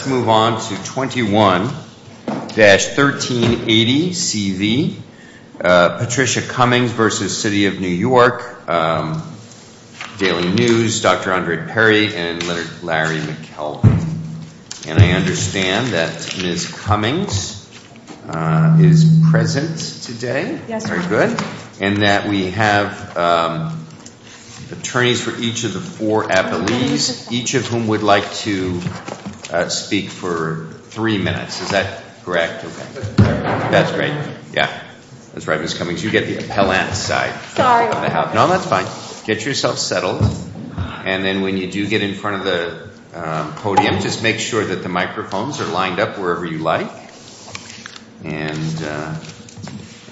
Let's move on to 21-1380CV, Patricia Cummings v. The City of New York, Daily News, Dr. Andrew Perry, and Larry McKelvey. And I understand that Ms. Cummings is present today, very good, and that we have attorneys for each of the four appellees, each of whom would like to speak for three minutes, is that correct? That's right, yeah, that's right Ms. Cummings, you get the appellant side. Sorry. No, that's fine. Get yourself settled, and then when you do get in front of the podium, just make sure that the microphones are lined up wherever you like, and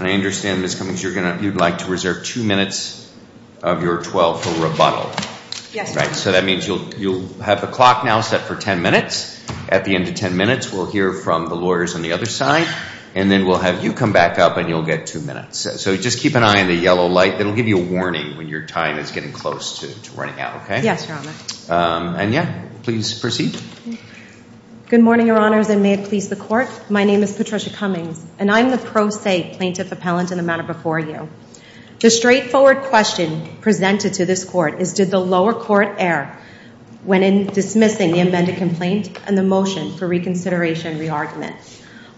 I understand Ms. Cummings, you'd like to reserve two minutes of your 12 for rebuttal, right, so that means you'll have the clock now set for 10 minutes, at the end of 10 minutes we'll hear from the lawyers on the other side, and then we'll have you come back up and you'll get two minutes. So just keep an eye on the yellow light, it'll give you a warning when your time is getting close to running out, okay? Yes, Your Honor. And yeah, please proceed. Good morning, Your Honors, and may it please the Court. My name is Patricia Cummings, and I'm the pro se plaintiff appellant in the matter before you. The straightforward question presented to this Court is, did the lower court err when in dismissing the amended complaint and the motion for reconsideration and re-argument?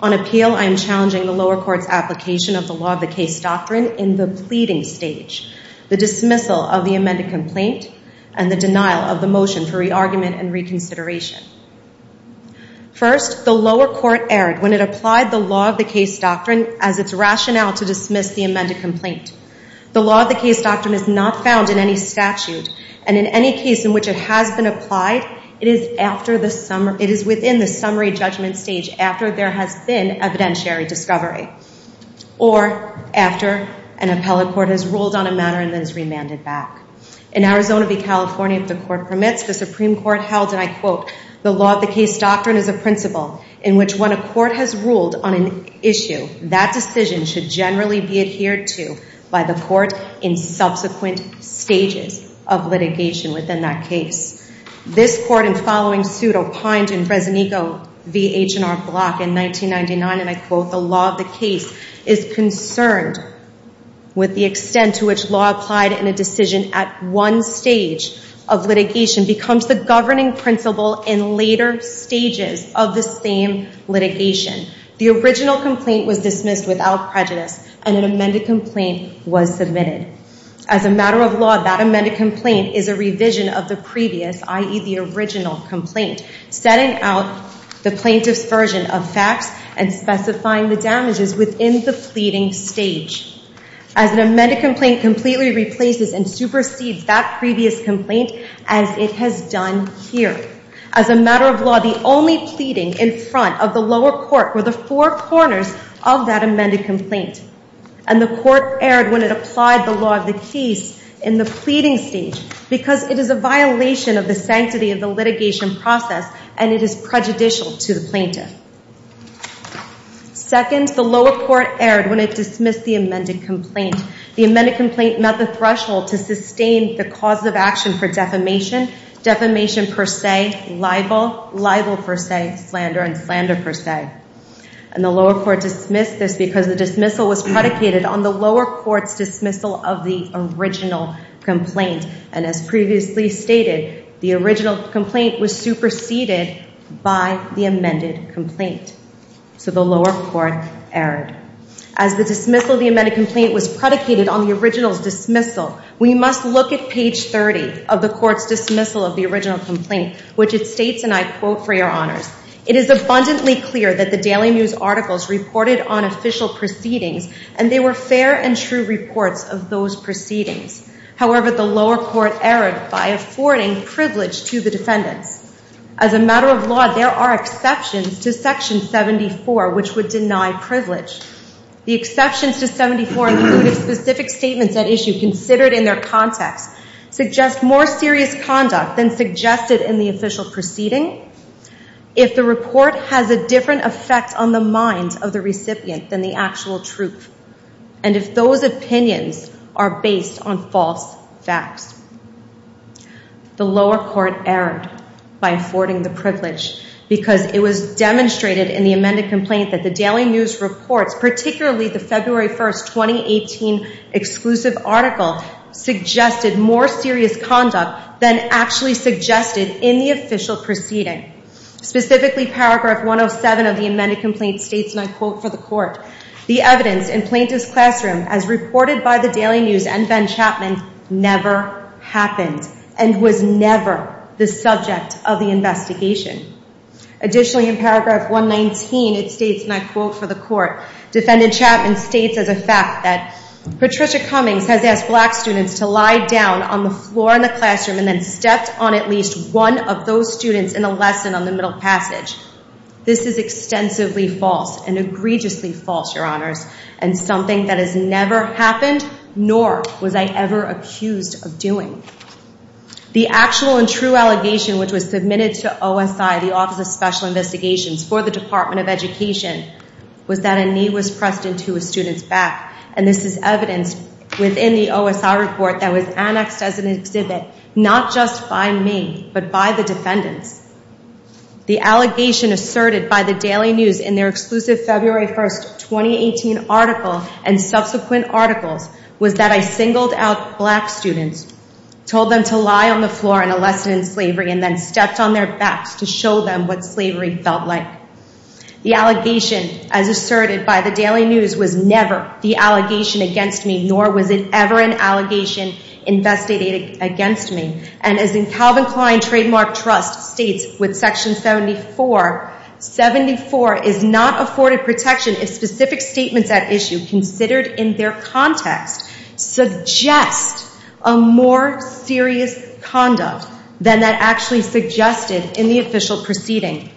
On appeal, I am challenging the lower court's application of the law of the case doctrine in the pleading stage, the dismissal of the amended complaint, and the denial of the motion for re-argument and reconsideration. First, the lower court erred when it applied the law of the case doctrine as its rationale to dismiss the amended complaint. The law of the case doctrine is not found in any statute, and in any case in which it has been applied, it is within the summary judgment stage after there has been evidentiary discovery or after an appellate court has ruled on a matter and then has remanded back. In Arizona v. California, if the Court permits, the Supreme Court held, and I quote, the law of the case doctrine is a principle in which when a court has ruled on an issue, that decision should generally be adhered to by the court in subsequent stages of litigation within that case. This Court, in following suit opined in Fresnico v. H&R Block in 1999, and I quote, the law of the case is concerned with the extent to which law applied in a decision at one stage of litigation becomes the governing principle in later stages of the same litigation. The original complaint was dismissed without prejudice, and an amended complaint was submitted. As a matter of law, that amended complaint is a revision of the previous, i.e., the original complaint, setting out the plaintiff's version of facts and specifying the damages within the pleading stage. As an amended complaint completely replaces and supersedes that previous complaint as it has done here. As a matter of law, the only pleading in front of the lower court were the four corners of that amended complaint, and the Court erred when it applied the law of the case in the pleading stage because it is a violation of the sanctity of the litigation process and it is prejudicial to the plaintiff. Second, the lower court erred when it dismissed the amended complaint. The amended complaint met the threshold to sustain the cause of action for defamation, defamation per se, libel, libel per se, slander, and slander per se. And the lower court dismissed this because the dismissal was predicated on the lower court's dismissal of the original complaint. And as previously stated, the original complaint was superseded by the amended complaint. So the lower court erred. As the dismissal of the amended complaint was predicated on the original's dismissal, we must look at page 30 of the court's dismissal of the original complaint, which it states, and I quote, for your honors, it is abundantly clear that the Daily News articles reported on official proceedings and they were fair and true reports of those proceedings. However, the lower court erred by affording privilege to the defendants. As a matter of law, there are exceptions to section 74 which would deny privilege. The exceptions to 74 included specific statements at issue considered in their context, suggest more serious conduct than suggested in the official proceeding, if the report has a different effect on the minds of the recipient than the actual truth, and if those opinions are based on false facts. The lower court erred by affording the privilege because it was demonstrated in the amended complaint that the Daily News reports, particularly the February 1, 2018 exclusive article, suggested more serious conduct than actually suggested in the official proceeding. Specifically, paragraph 107 of the amended complaint states, and I quote for the court, the evidence in Plaintiff's Classroom as reported by the Daily News and Ben Chapman never happened and was never the subject of the investigation. Additionally, in paragraph 119, it states, and I quote for the court, Defendant Chapman states as a fact that Patricia Cummings has asked black students to lie down on the floor in the classroom and then stepped on at least one of those students in a lesson on the Middle Passage. This is extensively false and egregiously false, your honors, and something that has never happened nor was I ever accused of doing. The actual and true allegation which was submitted to OSI, the Office of Special Investigations, for the Department of Education, was that a knee was pressed into a student's back, and this is evidenced within the OSI report that was annexed as an exhibit not just by me but by the defendants. The allegation asserted by the Daily News in their exclusive February 1, 2018 article and subsequent articles was that I singled out black students, told them to lie on the floor in a lesson in slavery, and then stepped on their backs to show them what slavery felt like. The allegation as asserted by the Daily News was never the allegation against me nor was it ever an allegation investigated against me. And as in Calvin Klein Trademark Trust states with section 74, 74 is not afforded protection if specific statements at issue considered in their context suggest a more serious conduct than that actually suggested in the official proceeding.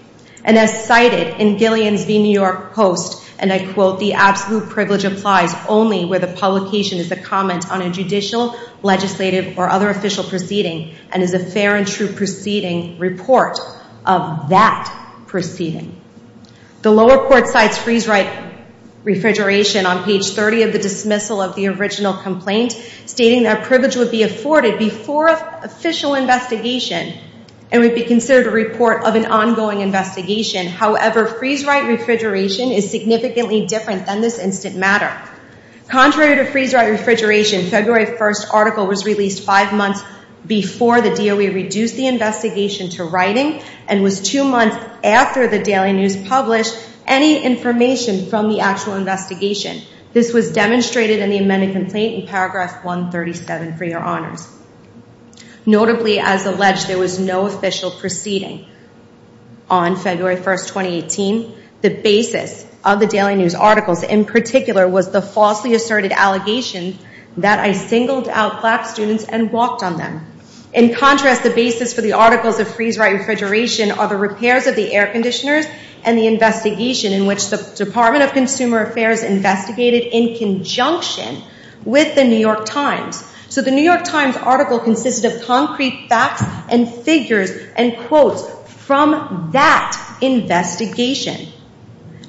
And as cited in Gillian's v. New York Post, and I quote, the absolute privilege applies only where the publication is a comment on a judicial, legislative, or other official proceeding and is a fair and true proceeding report of that proceeding. The lower court cites freeze-write refrigeration on page 30 of the dismissal of the original complaint stating that privilege would be afforded before official investigation and would be considered a report of an ongoing investigation. However, freeze-write refrigeration is significantly different than this instant matter. Contrary to freeze-write refrigeration, February 1 article was released five months before the DOE reduced the investigation to writing and was two months after the Daily News published any information from the actual investigation. This was demonstrated in the amended complaint in paragraph 137 for your honors. Notably, as alleged, there was no official proceeding. On February 1, 2018, the basis of the Daily News articles in particular was the falsely asserted allegation that I singled out black students and walked on them. In contrast, the basis for the articles of freeze-write refrigeration are the repairs of the air conditioners and the investigation in which the Department of Consumer Affairs investigated in conjunction with the New York Times. So the New York Times article consisted of concrete facts and figures and quotes from that investigation.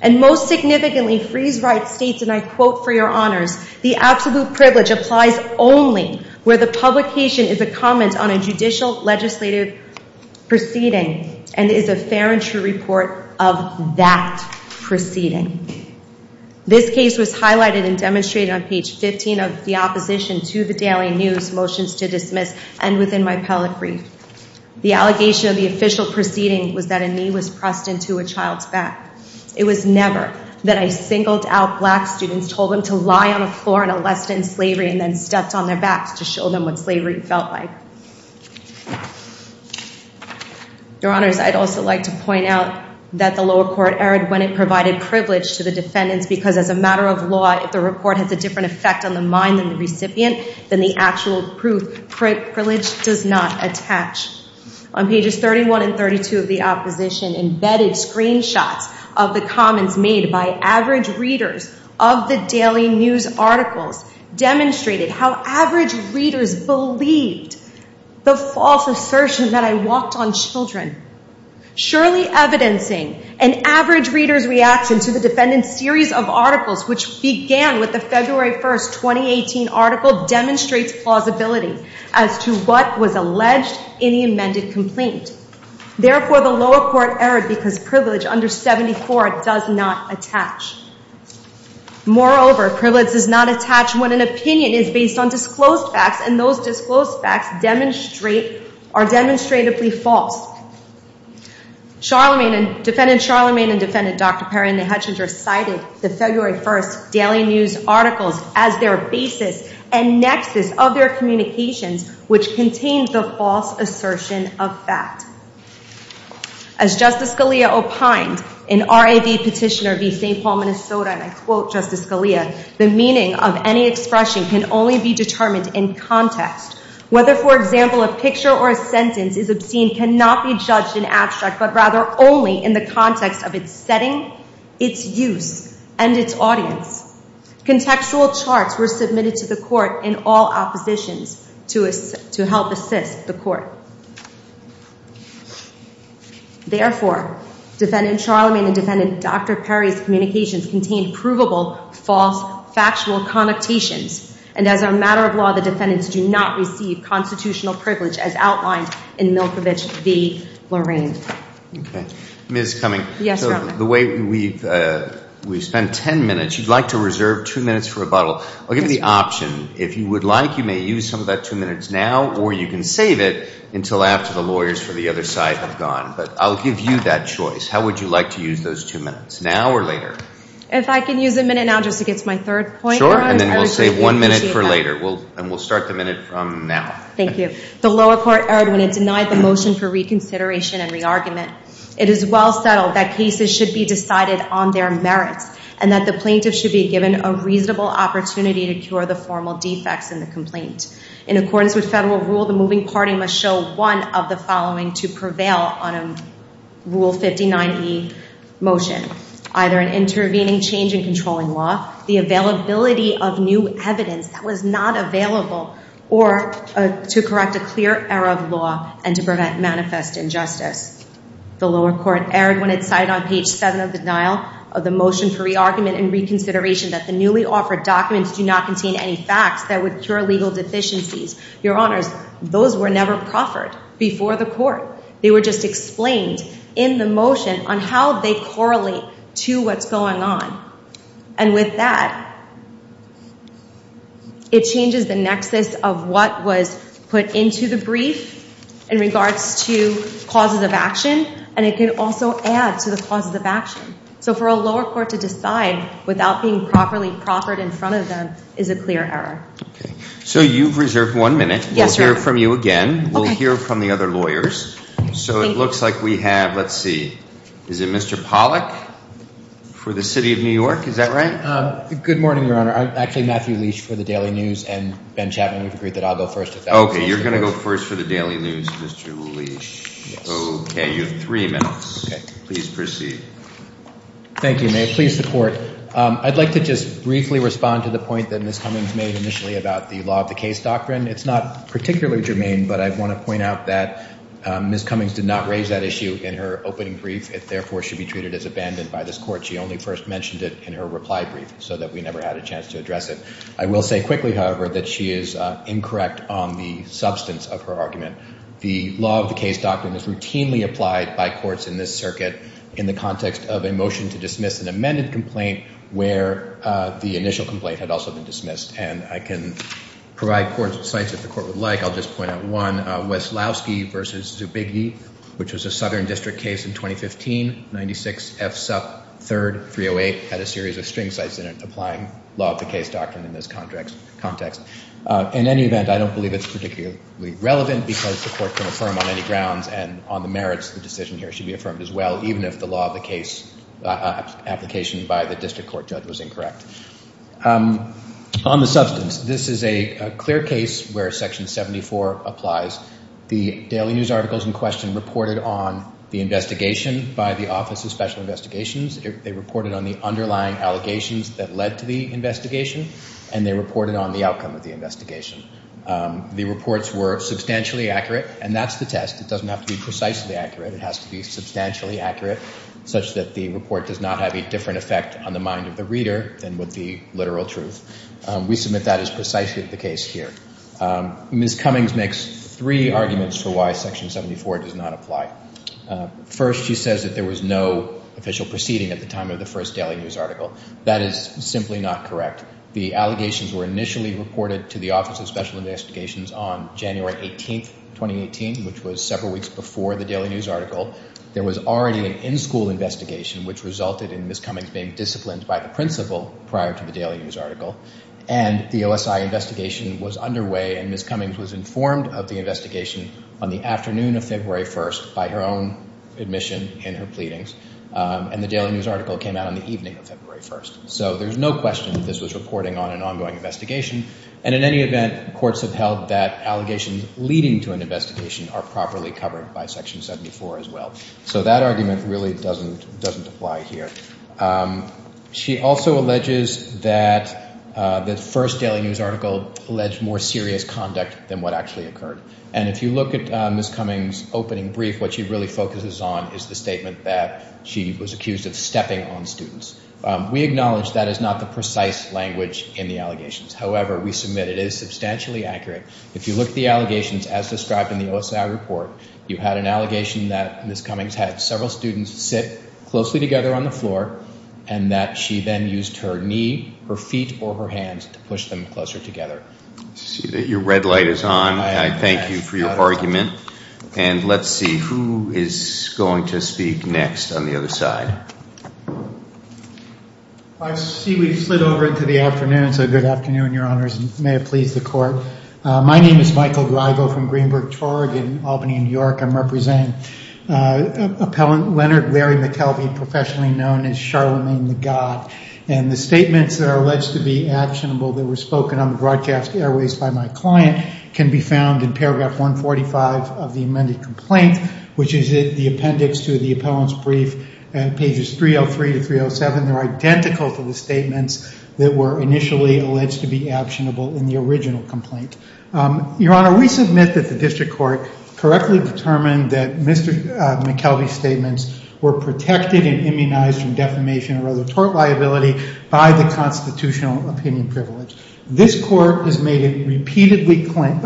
And most significantly, freeze-write states, and I quote for your honors, the absolute privilege applies only where the publication is a comment on a judicial legislative proceeding and is a fair and true report of that proceeding. This case was highlighted and demonstrated on page 15 of the opposition to the Daily News motions to dismiss and within my appellate brief. The allegation of the official proceeding was that a knee was pressed into a child's back. It was never that I singled out black students, told them to lie on the floor and allest in slavery and then stepped on their backs to show them what slavery felt like. Your honors, I'd also like to point out that the lower court erred when it provided privilege to the defendants because as a matter of law, if the report has a different effect on the mind than the recipient, then the actual proof privilege does not attach. On pages 31 and 32 of the opposition, embedded screenshots of the comments made by average readers of the Daily News articles demonstrated how average readers believed the false assertion that I walked on children. Surely evidencing an average reader's reaction to the defendant's series of articles, which began with the February 1st, 2018 article, demonstrates plausibility as to what was alleged in the amended complaint. Therefore, the lower court erred because privilege under 74 does not attach. Moreover, privilege does not attach when an opinion is based on disclosed facts and those disclosed facts are demonstratively false. Defendant Charlemagne and defendant Dr. Perry and the Hetchinger cited the February 1st Daily News articles as their basis and nexus of their communications, which contained the false assertion of fact. As Justice Scalia opined in RAV Petitioner v. St. Paul, Minnesota, and I quote Justice Scalia, the meaning of any expression can only be determined in context. Whether for example a picture or a sentence is obscene cannot be judged in abstract, but rather only in the context of its setting, its use, and its audience. Contextual charts were submitted to the court in all oppositions to help assist the court. Therefore, defendant Charlemagne and defendant Dr. Perry's communications contained provable, false, factual connotations, and as a matter of law, the defendants do not receive constitutional privilege as outlined in Milkovich v. Lorraine. Okay. Ms. Cummings. Yes, Your Honor. The way we've spent 10 minutes, you'd like to reserve two minutes for rebuttal. I'll give you the option. If you would like, you may use some of that two minutes now, or you can save it until after the lawyers for the other side have gone, but I'll give you that choice. How would you like to use those two minutes? Now or later? If I can use a minute now just to get to my third point, Your Honor, I would greatly appreciate that. Sure, and then we'll save one minute for later, and we'll start the minute from now. Thank you. The lower court erred when it denied the motion for reconsideration and re-argument. It is well settled that cases should be decided on their merits, and that the plaintiff should be given a reasonable opportunity to cure the formal defects in the complaint. In accordance with federal rule, the moving party must show one of the following to prevail on a Rule 59e motion, either an intervening change in controlling law, the availability of new evidence that was not available, or to correct a clear error of law and to prevent a manifest injustice. The lower court erred when it cited on page seven of the denial of the motion for re-argument and reconsideration that the newly offered documents do not contain any facts that would cure legal deficiencies. Your Honors, those were never proffered before the court. They were just explained in the motion on how they correlate to what's going on. And with that, it changes the nexus of what was put into the brief in regards to causes of action, and it can also add to the causes of action. So for a lower court to decide without being properly proffered in front of them is a clear error. Okay. So you've reserved one minute. Yes, Your Honor. We'll hear from you again. Okay. We'll hear from the other lawyers. So it looks like we have, let's see, is it Mr. Pollack for the City of New York? Is that right? Good morning, Your Honor. Actually, Matthew Leach for the Daily News, and Ben Chapman, we've agreed that I'll go first. Okay. You're going to go first for the Daily News, Mr. Leach. Yes. Okay. You have three minutes. Okay. Please proceed. Thank you, Mayor. Please support. I'd like to just briefly respond to the point that Ms. Cummings made initially about the law of the case doctrine. It's not particularly germane, but I want to point out that Ms. Cummings did not raise that issue in her opening brief, and therefore should be treated as abandoned by this court. She only first mentioned it in her reply brief so that we never had a chance to address it. I will say quickly, however, that she is incorrect on the substance of her argument. The law of the case doctrine is routinely applied by courts in this circuit in the context of a motion to dismiss an amended complaint where the initial complaint had also been dismissed. And I can provide courts with sites if the court would like. I'll just point out one, Weslowski v. Zbigniew, which was a Southern District case in 2015, 96 F. Sup. 3rd, 308, had a series of string sites in it applying law of the case doctrine in this context. In any event, I don't believe it's particularly relevant because the court can affirm on any grounds and on the merits, the decision here should be affirmed as well, even if the law of the case application by the district court judge was incorrect. On the substance, this is a clear case where Section 74 applies. The Daily News articles in question reported on the investigation by the Office of Special Investigations. They reported on the underlying allegations that led to the investigation, and they reported on the outcome of the investigation. The reports were substantially accurate, and that's the test. It doesn't have to be precisely accurate. It has to be substantially accurate such that the report does not have a different effect on the mind of the reader than would the literal truth. We submit that as precisely the case here. Ms. Cummings makes three arguments for why Section 74 does not apply. First, she says that there was no official proceeding at the time of the first Daily News article. That is simply not correct. The allegations were initially reported to the Office of Special Investigations on January 18th, 2018, which was several weeks before the Daily News article. There was already an in-school investigation, which resulted in Ms. Cummings being disciplined by the principal prior to the Daily News article, and the OSI investigation was underway and Ms. Cummings was informed of the investigation on the afternoon of February 1st by her own admission and her pleadings, and the Daily News article came out on the evening of February 1st. So there's no question that this was reporting on an ongoing investigation, and in any event, courts have held that allegations leading to an investigation are properly covered by Section 74 as well. So that argument really doesn't apply here. She also alleges that the first Daily News article alleged more serious conduct than what actually occurred, and if you look at Ms. Cummings' opening brief, what she really focuses on is the statement that she was accused of stepping on students. We acknowledge that is not the precise language in the allegations, however, we submit it is substantially accurate. If you look at the allegations as described in the OSI report, you had an allegation that Ms. Cummings had several students sit closely together on the floor, and that she then used her knee, her feet, or her hands to push them closer together. I see that your red light is on, and I thank you for your argument, and let's see who is going to speak next on the other side. I see we've slid over into the afternoon, so good afternoon, Your Honors, and may it please the Court. My name is Michael Griego from Greenberg Chord in Albany, New York. I'm representing Appellant Leonard Larry McKelvey, professionally known as Charlemagne the God, and the statements that are alleged to be actionable that were spoken on the broadcast airways by my client can be found in paragraph 145 of the amended complaint, which is in the appendix to the appellant's brief, pages 303 to 307. They're identical to the statements that were initially alleged to be actionable in the original complaint. Your Honor, we submit that the district court correctly determined that Mr. McKelvey's statements were protected and immunized from defamation or other tort liability by the constitutional opinion privilege. This court has made it repeatedly plain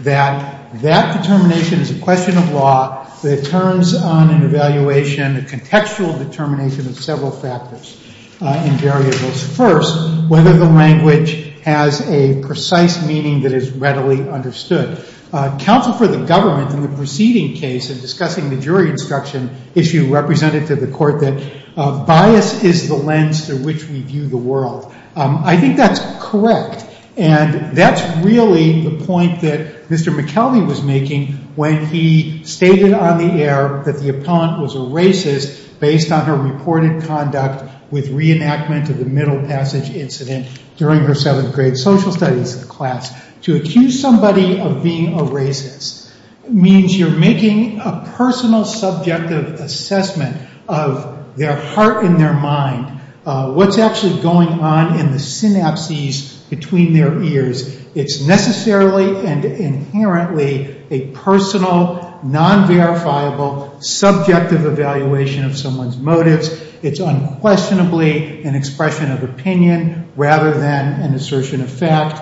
that that determination is a question of law that turns on an evaluation, a contextual determination of several factors and variables. First, whether the language has a precise meaning that is readily understood. Counsel for the government in the preceding case in discussing the jury instruction issue represented to the court that bias is the lens through which we view the world. I think that's correct, and that's really the point that Mr. McKelvey was making when he stated on the air that the appellant was a racist based on her reported conduct with the reenactment of the Middle Passage incident during her seventh grade social studies class. To accuse somebody of being a racist means you're making a personal subjective assessment of their heart and their mind, what's actually going on in the synapses between their ears. It's necessarily and inherently a personal, non-verifiable, subjective evaluation of someone's motives. It's unquestionably an expression of opinion rather than an assertion of fact.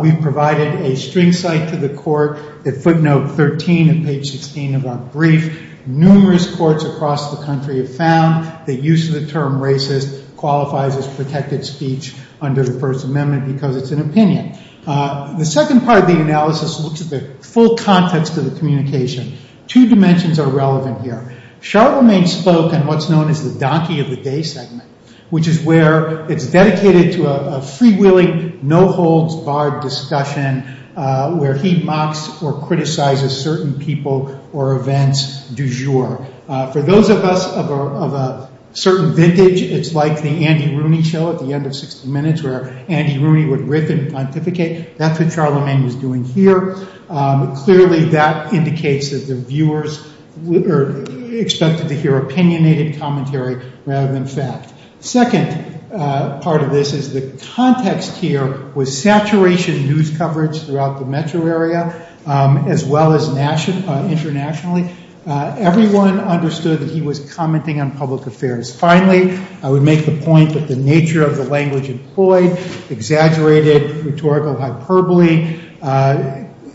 We provided a string cite to the court at footnote 13 of page 16 of our brief. Numerous courts across the country have found that use of the term racist qualifies as protected speech under the First Amendment because it's an opinion. The second part of the analysis looks at the full context of the communication. Two dimensions are relevant here. Charlemagne spoke in what's known as the donkey of the day segment, which is where it's dedicated to a freewheeling, no holds barred discussion where he mocks or criticizes certain people or events du jour. For those of us of a certain vintage, it's like the Andy Rooney show at the end of 60 Minutes where Andy Rooney would riff and pontificate, that's what Charlemagne was doing here. Clearly, that indicates that the viewers are expected to hear opinionated commentary rather than fact. The second part of this is the context here was saturation news coverage throughout the metro area as well as internationally. Everyone understood that he was commenting on public affairs. Finally, I would make the point that the nature of the language employed exaggerated rhetorical hyperbole,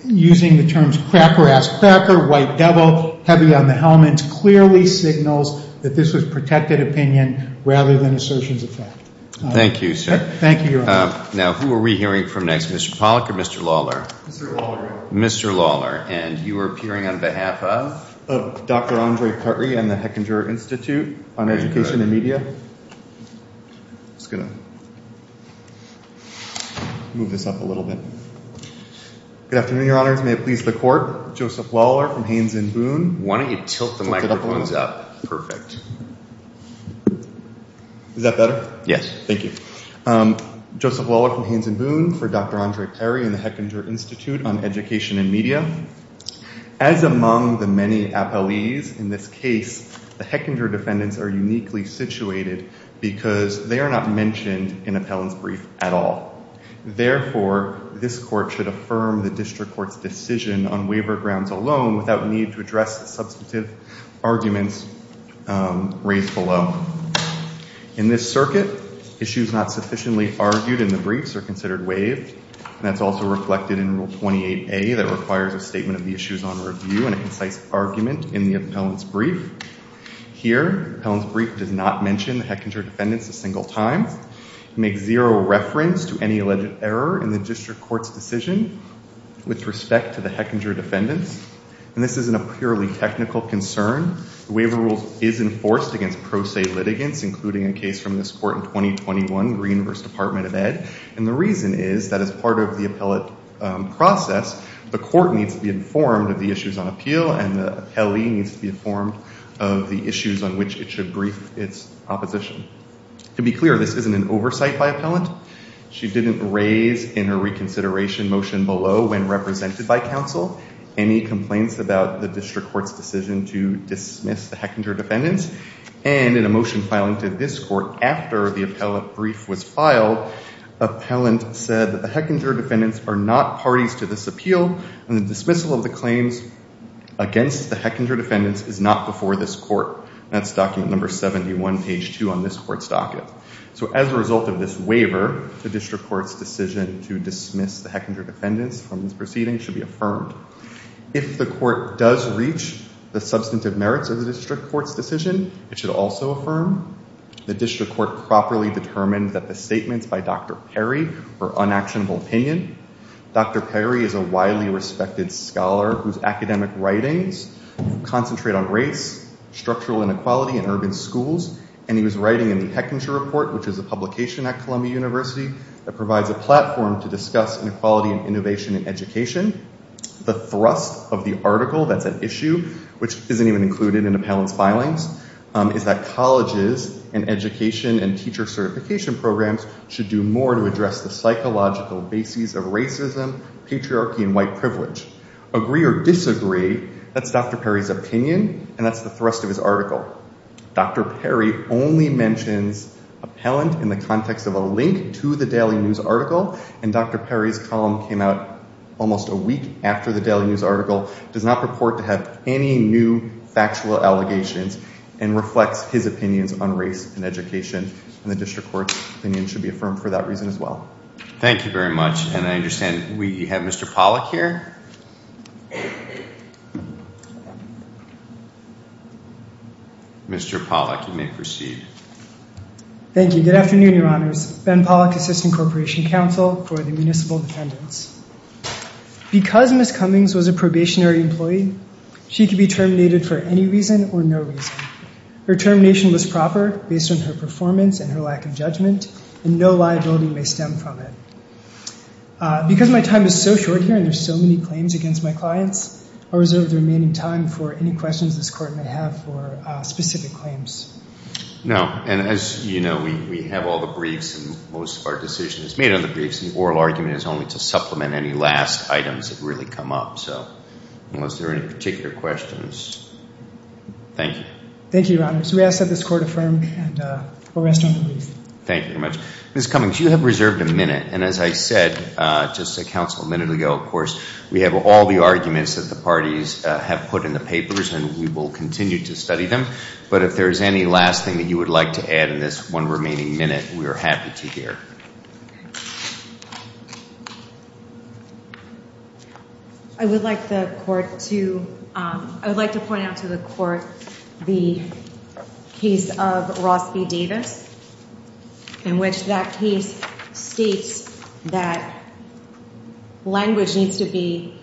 using the terms cracker-ass cracker, white devil, heavy on the helmets, clearly signals that this was protected opinion rather than assertions of fact. Thank you, sir. Thank you, Your Honor. Now, who are we hearing from next, Mr. Pollack or Mr. Lawler? Mr. Lawler. Mr. Lawler. And you are appearing on behalf of? Of Dr. Andre Carty and the Hechinger Institute on Education and Media. I'm just going to move this up a little bit. Good afternoon, Your Honors. May it please the Court. Joseph Lawler from Haines and Boone. Why don't you tilt the microphones up? Perfect. Is that better? Yes. Thank you. Joseph Lawler from Haines and Boone for Dr. Andre Carty and the Hechinger Institute on Education and Media. As among the many appellees in this case, the Hechinger defendants are uniquely situated because they are not mentioned in appellant's brief at all. Therefore, this Court should affirm the district court's decision on waiver grounds alone without need to address the substantive arguments raised below. In this circuit, issues not sufficiently argued in the briefs are considered waived. That's also reflected in Rule 28A that requires a statement of the issues on review and a concise argument in the appellant's brief. Here, the appellant's brief does not mention the Hechinger defendants a single time. It makes zero reference to any alleged error in the district court's decision with respect to the Hechinger defendants. And this isn't a purely technical concern. The waiver rule is enforced against pro se litigants, including a case from this court in 2021, Green v. Department of Ed. And the reason is that as part of the appellate process, the court needs to be informed of the issues on which it should brief its opposition. To be clear, this isn't an oversight by appellant. She didn't raise in her reconsideration motion below when represented by counsel any complaints about the district court's decision to dismiss the Hechinger defendants. And in a motion filing to this court after the appellate brief was filed, appellant said that the Hechinger defendants are not parties to this appeal and the dismissal of the claims against the Hechinger defendants is not before this court. That's document number 71, page 2 on this court's docket. So as a result of this waiver, the district court's decision to dismiss the Hechinger defendants from this proceeding should be affirmed. If the court does reach the substantive merits of the district court's decision, it should also affirm the district court properly determined that the statements by Dr. Perry were unactionable opinion. Dr. Perry is a widely respected scholar whose academic writings concentrate on race, structural inequality in urban schools, and he was writing in the Hechinger Report, which is a publication at Columbia University that provides a platform to discuss inequality and innovation in education. The thrust of the article that's at issue, which isn't even included in appellant's filings, is that colleges and education and teacher certification programs should do more to address the psychological bases of racism, patriarchy, and white privilege. Agree or disagree, that's Dr. Perry's opinion and that's the thrust of his article. Dr. Perry only mentions appellant in the context of a link to the Daily News article and Dr. Perry's column came out almost a week after the Daily News article, does not purport to have any new factual allegations, and reflects his opinions on race and education. And the district court's opinion should be affirmed for that reason as well. Thank you very much, and I understand we have Mr. Pollack here. Mr. Pollack, you may proceed. Thank you. Good afternoon, your honors. Ben Pollack, Assistant Corporation Counsel for the Municipal Defendants. Because Ms. Cummings was a probationary employee, she could be terminated for any reason or no reason. Her termination was proper based on her performance and her lack of judgment and no liability may stem from it. Because my time is so short here and there's so many claims against my clients, I'll reserve the remaining time for any questions this court may have for specific claims. No, and as you know, we have all the briefs and most of our decision is made on the briefs and the oral argument is only to supplement any last items that really come up. Unless there are any particular questions. Thank you. Thank you, your honors. We ask that this court affirm and we'll rest on the briefs. Thank you very much. Ms. Cummings, you have reserved a minute. And as I said just a minute ago, of course, we have all the arguments that the parties have put in the papers and we will continue to study them. But if there's any last thing that you would like to add in this one remaining minute, we are happy to hear. Thank you. I would like the court to, I would like to point out to the court the case of Ross v. Davis in which that case states that language needs to be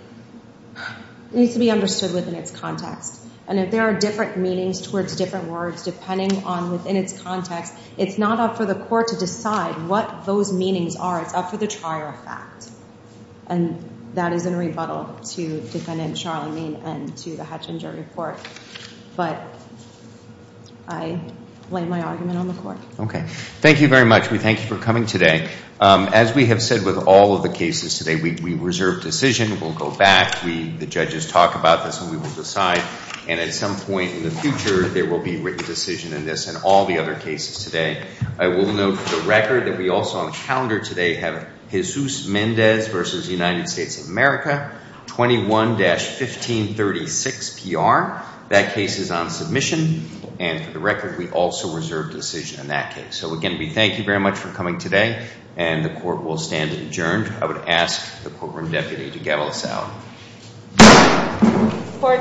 understood within its context. And if there are different meanings towards different words depending on within its context, it's not up for the court to decide what those meanings are. It's up for the trier of fact. And that is in rebuttal to defendant Charlene Meen and to the Hutchinson jury court. But I blame my argument on the court. Okay. Thank you very much. We thank you for coming today. As we have said with all of the cases today, we reserve decision, we'll go back, the judges talk about this and we will decide and at some point in the future there will be written decision in this and all the other cases today. I will note for the record that we also on the calendar today have Jesus Mendez v. United States of America 21-1536 PR. That case is on submission and for the record we also reserve decision in that case. So again, we thank you very much for coming today and the court will stand adjourned. I would ask the courtroom deputy to gavel us out. Court stands adjourned.